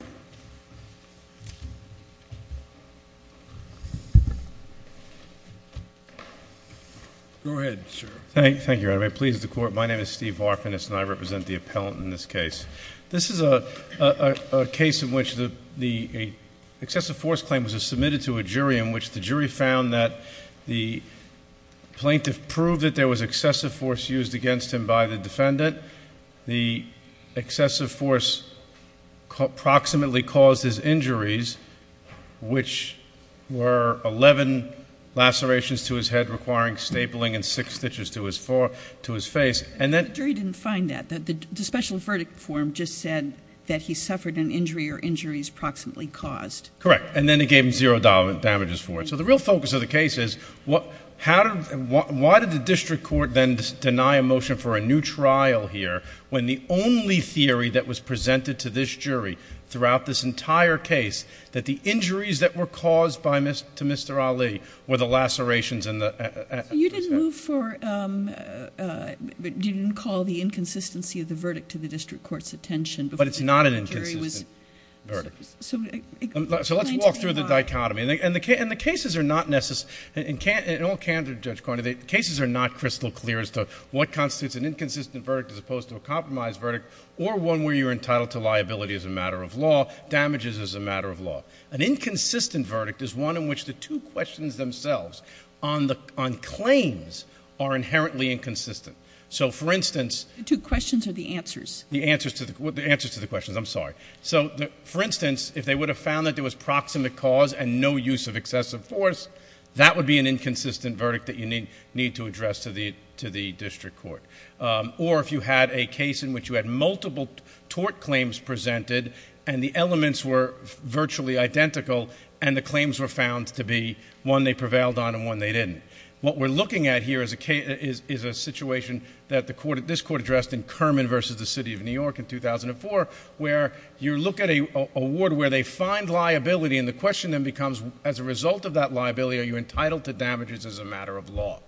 . Thank you. I'm pleased to court. My name is Steve orphan is not represent the appellant in this case. This is a case in which the excessive force claim was submitted to a jury in which the jury found that the. The plaintiff proved that there was excessive force used against him by the defendant. The excessive force. Approximately cause his injuries. Which were 11 lacerations to his head requiring stapling and six stitches to his four to his face. And that jury didn't find that the special verdict form just said that he suffered an injury or injuries proximately caused. Correct. And then it gave him zero dollar damages for it. So the real focus of the case is what. How. Why did the district court then deny a motion for a new trial here when the only theory that was presented to this jury throughout this entire case that the injuries that were caused by Mr. Mr. Ali with the lacerations in the. You didn't move for didn't call the inconsistency of the verdict to the district court's attention. But it's not an inconsistency. So let's walk through the dichotomy and the case and the cases are not necessary. And can't it all can to judge quantity cases are not crystal clear as to what constitutes an inconsistent verdict as opposed to a compromise verdict or one where you're entitled to liability as a matter of law damages as a matter of law. An inconsistent verdict is one in which the two questions themselves on the on claims are inherently inconsistent. So, for instance, two questions are the answers, the answers to the answers to the questions. I'm sorry. So, for instance, if they would have found that there was proximate cause and no use of excessive force, that would be an inconsistent verdict that you need need to address to the to the district court. Or if you had a case in which you had multiple tort claims presented and the elements were virtually identical and the claims were found to be one they prevailed on and one they didn't. What we're looking at here is a case is a situation that the court at this court addressed in Kerman versus the city of New York in 2004, where you look at a award where they find liability. And the question then becomes, as a result of that liability, are you entitled to damages as a matter of law?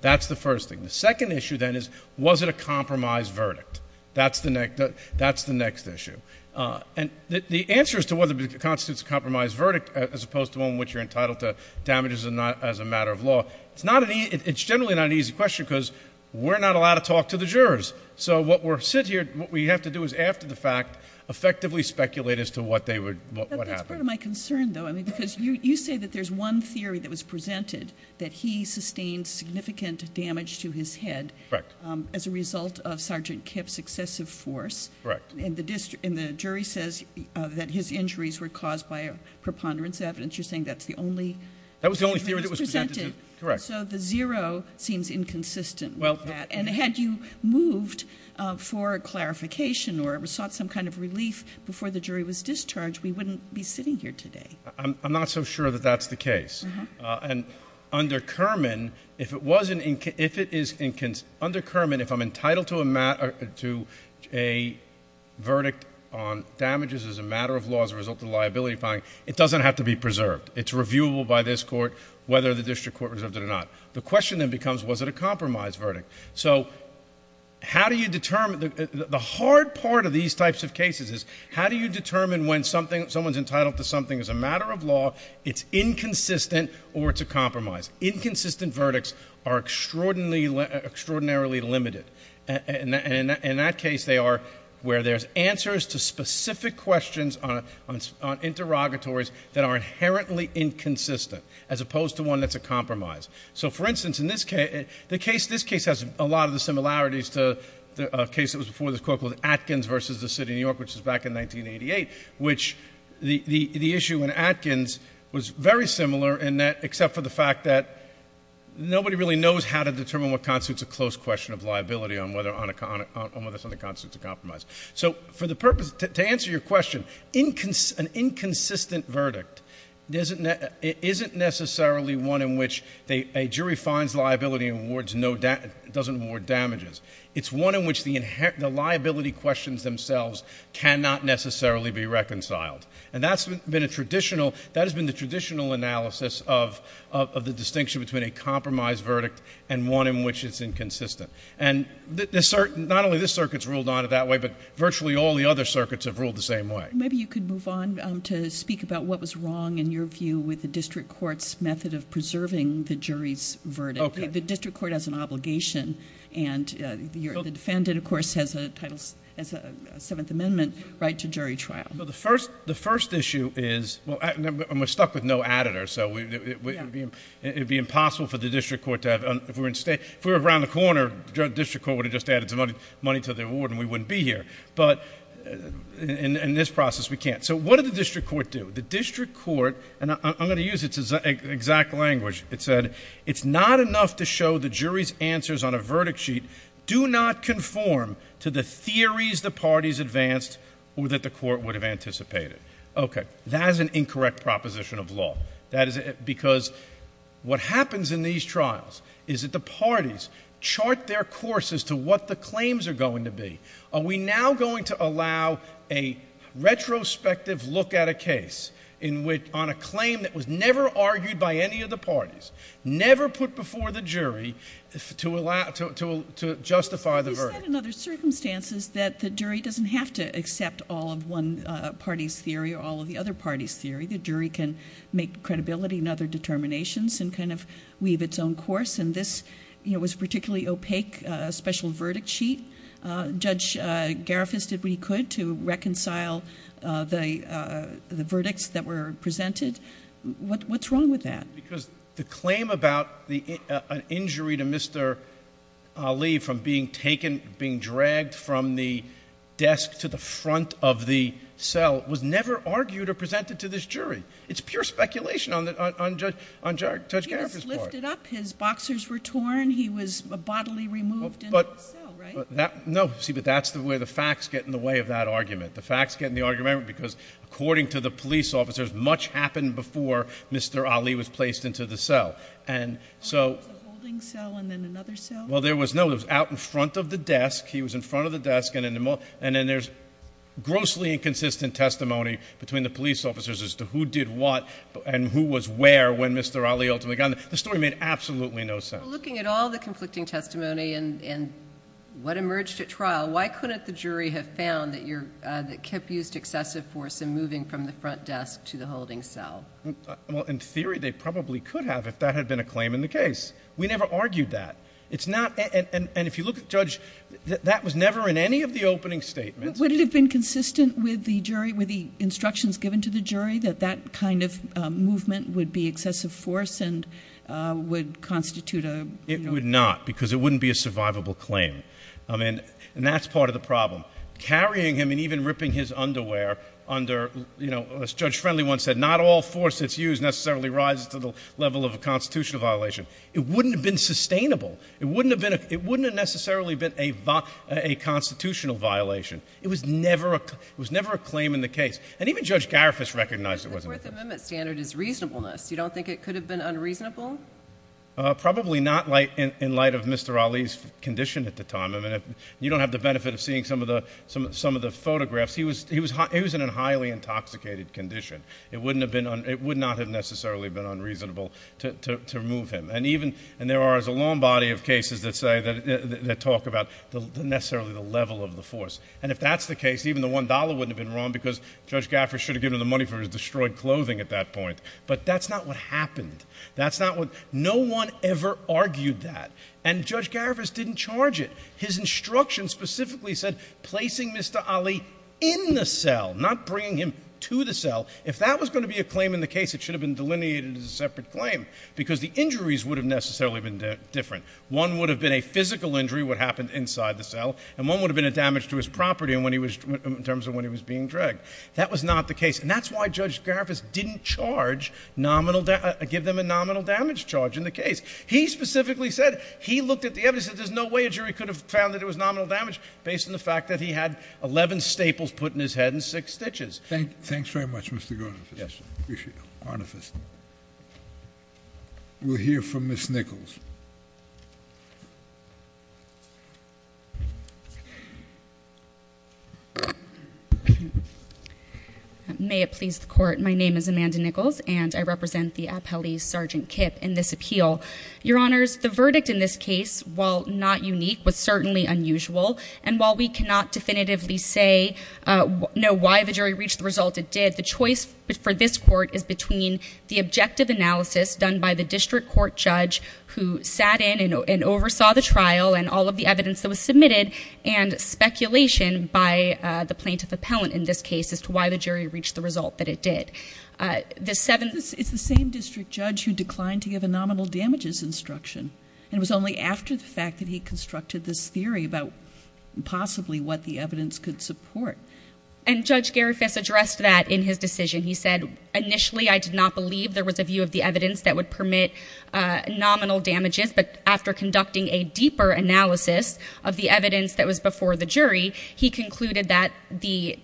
That's the first thing. The second issue, then, is was it a compromise verdict? That's the next. That's the next issue. And the answer is to what constitutes a compromise verdict, as opposed to one in which you're entitled to damages and not as a matter of law. It's not an it's generally not an easy question because we're not allowed to talk to the jurors. So what we're sitting here, what we have to do is after the fact, effectively speculate as to what they would. What happened to my concern, though? I mean, because you say that there's one theory that was presented that he sustained significant damage to his head. Correct. As a result of Sergeant Kip's excessive force. Correct. And the district in the jury says that his injuries were caused by a preponderance evidence. You're saying that's the only that was the only theory that was presented. Correct. So the zero seems inconsistent. Well, and had you moved for clarification or sought some kind of relief before the jury was discharged? We wouldn't be sitting here today. I'm not so sure that that's the case. And under Kerman, if it wasn't, if it is under Kerman, if I'm entitled to a to a verdict on damages as a matter of law, as a result of liability fine, it doesn't have to be preserved. It's reviewable by this court, whether the district court reserves it or not. The question then becomes, was it a compromise verdict? So how do you determine the hard part of these types of cases? How do you determine when something someone's entitled to something as a matter of law? It's inconsistent or it's a compromise. Inconsistent verdicts are extraordinarily, extraordinarily limited. And in that case, they are where there's answers to specific questions on interrogatories that are inherently inconsistent as opposed to one that's a compromise. So, for instance, in this case, the case, this case has a lot of the similarities to a case that was before this court called Atkins versus the City of New York, which was back in 1988, which the issue in Atkins was very similar in that, except for the fact that nobody really knows how to determine what constitutes a close question of liability on whether something constitutes a compromise. So, for the purpose, to answer your question, an inconsistent verdict isn't necessarily one in which a jury finds liability and doesn't award damages. It's one in which the liability questions themselves cannot necessarily be reconciled. And that's been a traditional, that has been the traditional analysis of the distinction between a compromise verdict and one in which it's inconsistent. And not only this circuit's ruled on it that way, but virtually all the other circuits have ruled the same way. Maybe you could move on to speak about what was wrong, in your view, with the district court's method of preserving the jury's verdict. Okay. The district court has an obligation and the defendant, of course, has a title as a Seventh Amendment right to jury trial. Well, the first issue is, and we're stuck with no additors, so it would be impossible for the district court to have, if we were around the corner, the district court would have just added some money to the award and we wouldn't be here. But, in this process, we can't. So, what did the district court do? The district court, and I'm going to use its exact language, it said, it's not enough to show the jury's answers on a verdict sheet do not conform to the theories the parties advanced or that the court would have anticipated. Okay. That is an incorrect proposition of law. Because what happens in these trials is that the parties chart their course as to what the claims are going to be. Are we now going to allow a retrospective look at a case on a claim that was never argued by any of the parties, never put before the jury, to justify the verdict? You said in other circumstances that the jury doesn't have to accept all of one party's theory or all of the other party's theory. The jury can make credibility and other determinations and kind of weave its own course. And this was a particularly opaque special verdict sheet. Judge Garifuss did what he could to reconcile the verdicts that were presented. What's wrong with that? Because the claim about an injury to Mr. Ali from being taken, being dragged from the desk to the front of the cell, was never argued or presented to this jury. He was lifted up. His boxers were torn. He was bodily removed into the cell, right? No. See, but that's the way the facts get in the way of that argument. The facts get in the way of the argument because according to the police officers, much happened before Mr. Ali was placed into the cell. And so— There was a holding cell and then another cell? Well, there was no—it was out in front of the desk. He was in front of the desk. And then there's grossly inconsistent testimony between the police officers as to who did what and who was where when Mr. Ali ultimately got there. The story made absolutely no sense. Well, looking at all the conflicting testimony and what emerged at trial, why couldn't the jury have found that Kip used excessive force in moving from the front desk to the holding cell? Well, in theory, they probably could have if that had been a claim in the case. We never argued that. And if you look at Judge—that was never in any of the opening statements. Would it have been consistent with the jury, with the instructions given to the jury, that that kind of movement would be excessive force and would constitute a— It would not because it wouldn't be a survivable claim. And that's part of the problem. Carrying him and even ripping his underwear under—as Judge Friendly once said, not all force that's used necessarily rises to the level of a constitutional violation. It wouldn't have been sustainable. It wouldn't have necessarily been a constitutional violation. It was never a claim in the case. And even Judge Garifas recognized it wasn't. The Fourth Amendment standard is reasonableness. You don't think it could have been unreasonable? Probably not in light of Mr. Ali's condition at the time. I mean, you don't have the benefit of seeing some of the photographs. He was in a highly intoxicated condition. It wouldn't have been—it would not have necessarily been unreasonable to remove him. And even—and there are a long body of cases that say—that talk about necessarily the level of the force. And if that's the case, even the $1 wouldn't have been wrong because Judge Garifas should have given him the money for his destroyed clothing at that point. But that's not what happened. That's not what—no one ever argued that. And Judge Garifas didn't charge it. His instruction specifically said placing Mr. Ali in the cell, not bringing him to the cell. If that was going to be a claim in the case, it should have been delineated as a separate claim because the injuries would have necessarily been different. One would have been a physical injury, what happened inside the cell, and one would have been a damage to his property in terms of when he was being dragged. That was not the case. And that's why Judge Garifas didn't charge nominal—give them a nominal damage charge in the case. He specifically said—he looked at the evidence and said there's no way a jury could have found that it was nominal damage based on the fact that he had 11 staples put in his head and 6 stitches. Thanks very much, Mr. Garifas. Yes, sir. Appreciate it. Garifas. We'll hear from Ms. Nichols. May it please the Court. My name is Amanda Nichols and I represent the appellee, Sergeant Kipp, in this appeal. Your Honors, the verdict in this case, while not unique, was certainly unusual. And while we cannot definitively say—know why the jury reached the result it did, the choice for this Court is between the objective analysis done by the district court judge who sat in and oversaw the trial and all of the evidence that was submitted and speculation by the plaintiff appellant in this case as to why the jury reached the result that it did. It's the same district judge who declined to give a nominal damages instruction. And it was only after the fact that he constructed this theory about possibly what the evidence could support. And Judge Garifas addressed that in his decision. He said, initially, I did not believe there was a view of the evidence that would permit nominal damages. But after conducting a deeper analysis of the evidence that was before the jury, he concluded that the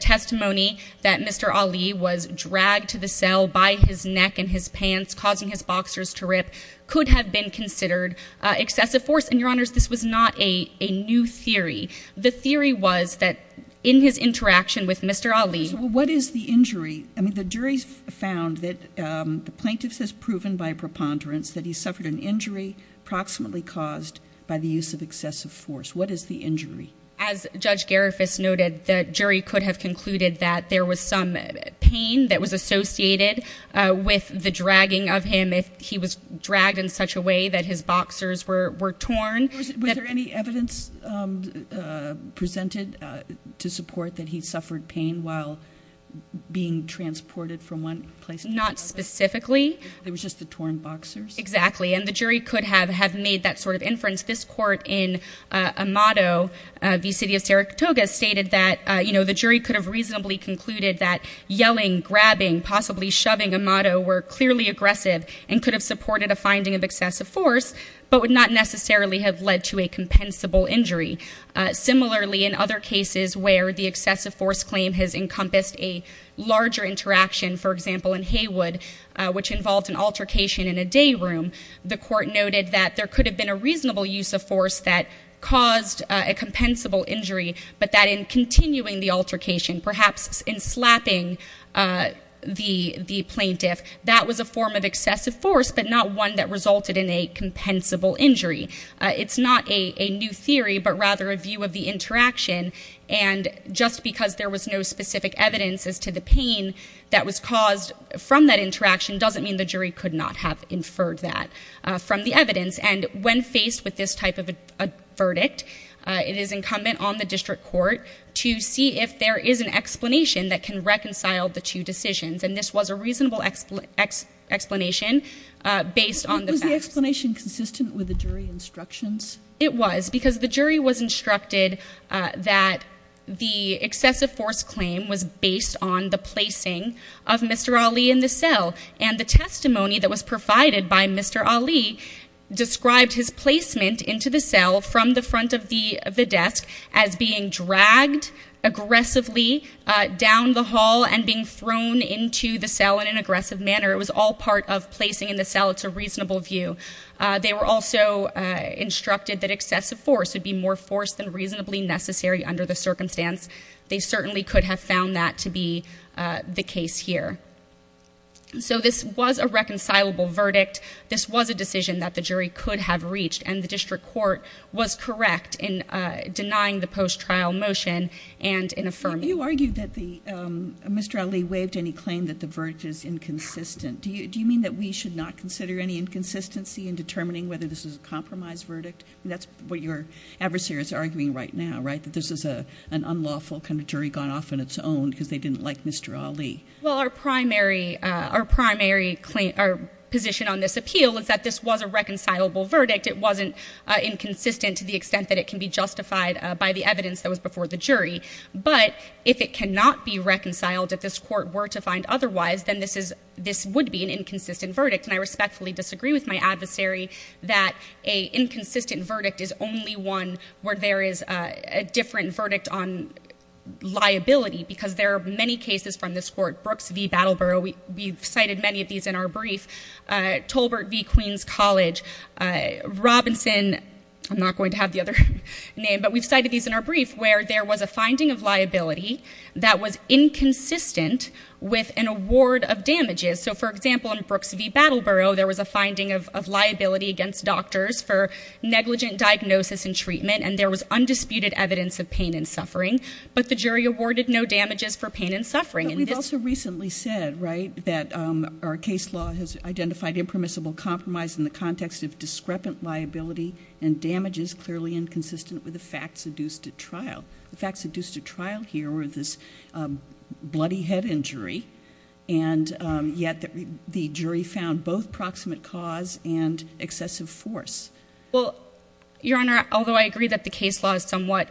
testimony that Mr. Ali was dragged to the cell by his neck and his pants, causing his boxers to rip, could have been considered excessive force. And, Your Honors, this was not a new theory. The theory was that in his interaction with Mr. Ali— So what is the injury? I mean, the jury found that the plaintiff has proven by preponderance that he suffered an injury approximately caused by the use of excessive force. What is the injury? As Judge Garifas noted, the jury could have concluded that there was some pain that was associated with the dragging of him if he was dragged in such a way that his boxers were torn. Was there any evidence presented to support that he suffered pain while being transported from one place to another? Not specifically. It was just the torn boxers? Exactly. And the jury could have made that sort of inference. This court in Amado v. City of Saratoga stated that the jury could have reasonably concluded that yelling, grabbing, possibly shoving Amado were clearly aggressive and could have supported a finding of excessive force, but would not necessarily have led to a compensable injury. Similarly, in other cases where the excessive force claim has encompassed a larger interaction, for example, in Haywood, which involved an altercation in a day room, the court noted that there could have been a reasonable use of force that caused a compensable injury, but that in continuing the altercation, perhaps in slapping the plaintiff, that was a form of excessive force, but not one that resulted in a compensable injury. It's not a new theory, but rather a view of the interaction. And just because there was no specific evidence as to the pain that was caused from that interaction doesn't mean the jury could not have inferred that from the evidence. And when faced with this type of a verdict, it is incumbent on the district court to see if there is an explanation that can reconcile the two decisions. And this was a reasonable explanation based on the facts. Was the explanation consistent with the jury instructions? It was, because the jury was instructed that the excessive force claim was based on the placing of Mr. Ali in the cell. And the testimony that was provided by Mr. Ali described his placement into the cell from the front of the desk as being dragged aggressively down the hall and being thrown into the cell in an aggressive manner. It was all part of placing in the cell. It's a reasonable view. They were also instructed that excessive force would be more force than reasonably necessary under the circumstance. They certainly could have found that to be the case here. So this was a reconcilable verdict. This was a decision that the jury could have reached, and the district court was correct in denying the post-trial motion and in affirming it. You argued that Mr. Ali waived any claim that the verdict is inconsistent. Do you mean that we should not consider any inconsistency in determining whether this is a compromise verdict? That's what your adversary is arguing right now, right, that this is an unlawful kind of jury gone off on its own because they didn't like Mr. Ali. Well, our primary position on this appeal is that this was a reconcilable verdict. It wasn't inconsistent to the extent that it can be justified by the evidence that was before the jury. But if it cannot be reconciled, if this court were to find otherwise, then this would be an inconsistent verdict. And I respectfully disagree with my adversary that an inconsistent verdict is only one where there is a different verdict on liability because there are many cases from this court. Brooks v. Battleboro, we've cited many of these in our brief. Tolbert v. Queens College, Robinson, I'm not going to have the other name, but we've cited these in our brief where there was a finding of liability that was inconsistent with an award of damages. So, for example, in Brooks v. Battleboro, there was a finding of liability against doctors for negligent diagnosis and treatment, and there was undisputed evidence of pain and suffering. But the jury awarded no damages for pain and suffering. But we've also recently said, right, that our case law has identified impermissible compromise in the context of discrepant liability and damages clearly inconsistent with the facts adduced at trial. The facts adduced at trial here were this bloody head injury, and yet the jury found both proximate cause and excessive force. Well, Your Honor, although I agree that the case law is somewhat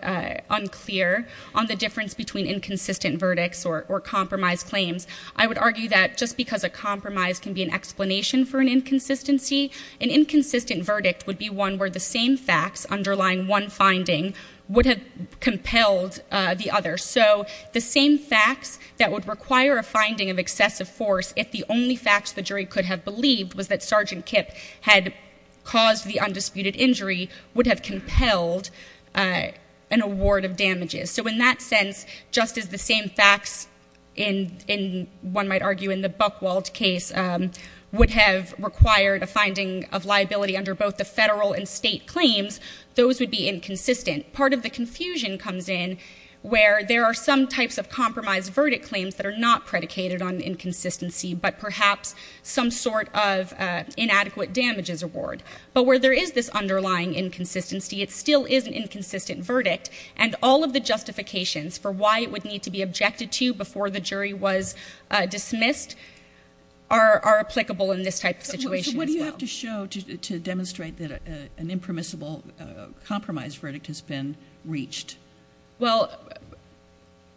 unclear on the difference between inconsistent verdicts or compromised claims, I would argue that just because a compromise can be an explanation for an inconsistency, an inconsistent verdict would be one where the same facts underlying one finding would have compelled the other. So the same facts that would require a finding of excessive force, if the only facts the jury could have believed was that Sergeant Kipp had caused the undisputed injury, would have compelled an award of damages. So in that sense, just as the same facts in one might argue in the Buchwald case would have required a finding of liability under both the federal and state claims, those would be inconsistent. Part of the confusion comes in where there are some types of compromised verdict claims that are not predicated on inconsistency but perhaps some sort of inadequate damages award. But where there is this underlying inconsistency, it still is an inconsistent verdict, and all of the justifications for why it would need to be objected to before the jury was dismissed are applicable in this type of situation as well. So what do you have to show to demonstrate that an impermissible compromised verdict has been reached? Well,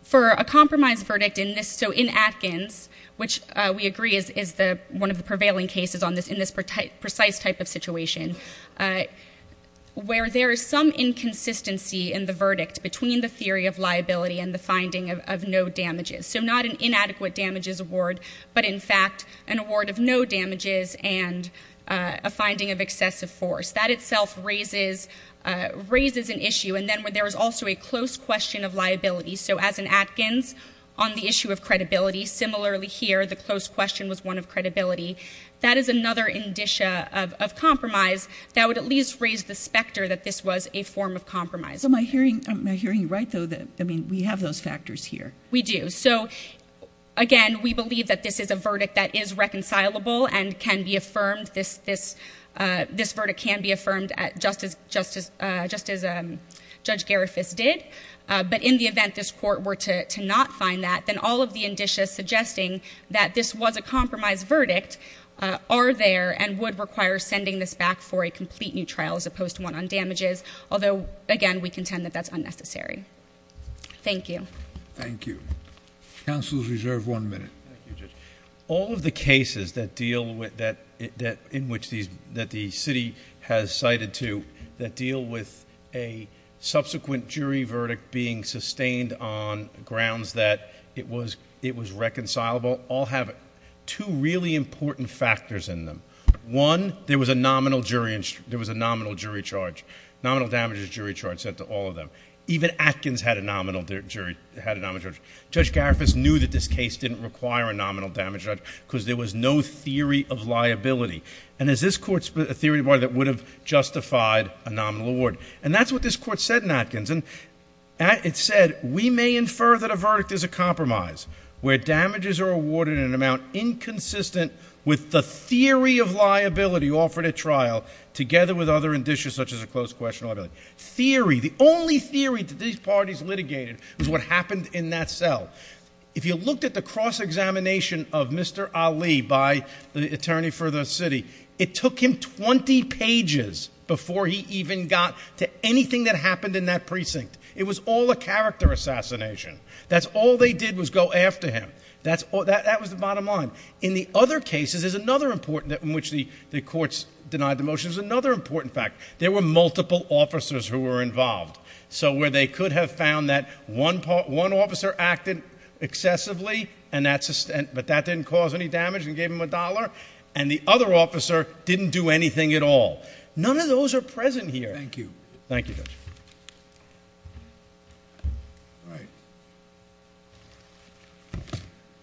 for a compromised verdict in this, so in Atkins, which we agree is one of the prevailing cases in this precise type of situation, where there is some inconsistency in the verdict between the theory of liability and the finding of no damages, so not an inadequate damages award but, in fact, an award of no damages and a finding of excessive force, that itself raises an issue. And then there is also a close question of liability. So as in Atkins, on the issue of credibility, similarly here, the close question was one of credibility. That is another indicia of compromise that would at least raise the specter that this was a form of compromise. So am I hearing you right, though, that, I mean, we have those factors here? We do. So, again, we believe that this is a verdict that is reconcilable and can be affirmed. This verdict can be affirmed just as Judge Garifuss did. But in the event this Court were to not find that, then all of the indicia suggesting that this was a compromised verdict are there and would require sending this back for a complete new trial as opposed to one on damages, although, again, we contend that that's unnecessary. Thank you. Counsel is reserved one minute. Thank you, Judge. All of the cases that deal with that in which the city has cited to that deal with a subsequent jury verdict being sustained on grounds that it was reconcilable all have two really important factors in them. One, there was a nominal jury charge. Nominal damages jury charge set to all of them. Even Atkins had a nominal jury charge. Judge Garifuss knew that this case didn't require a nominal jury charge because there was no theory of liability. And is this Court's theory that would have justified a nominal award? And that's what this Court said in Atkins. It said, we may infer that a verdict is a compromise where damages are awarded in an amount inconsistent with the theory of liability offered at trial together with other indicia such as a closed question liability. Theory. The only theory that these parties litigated was what happened in that cell. If you looked at the cross-examination of Mr. Ali by the attorney for the city, it took him 20 pages before he even got to anything that happened in that precinct. It was all a character assassination. That's all they did was go after him. That was the bottom line. In the other cases, there's another important in which the courts denied the motion. There's another important fact. There were multiple officers who were involved. So where they could have found that one officer acted excessively, but that didn't cause any damage and gave him a dollar, and the other officer didn't do anything at all. None of those are present here. Thank you. Thank you, Judge.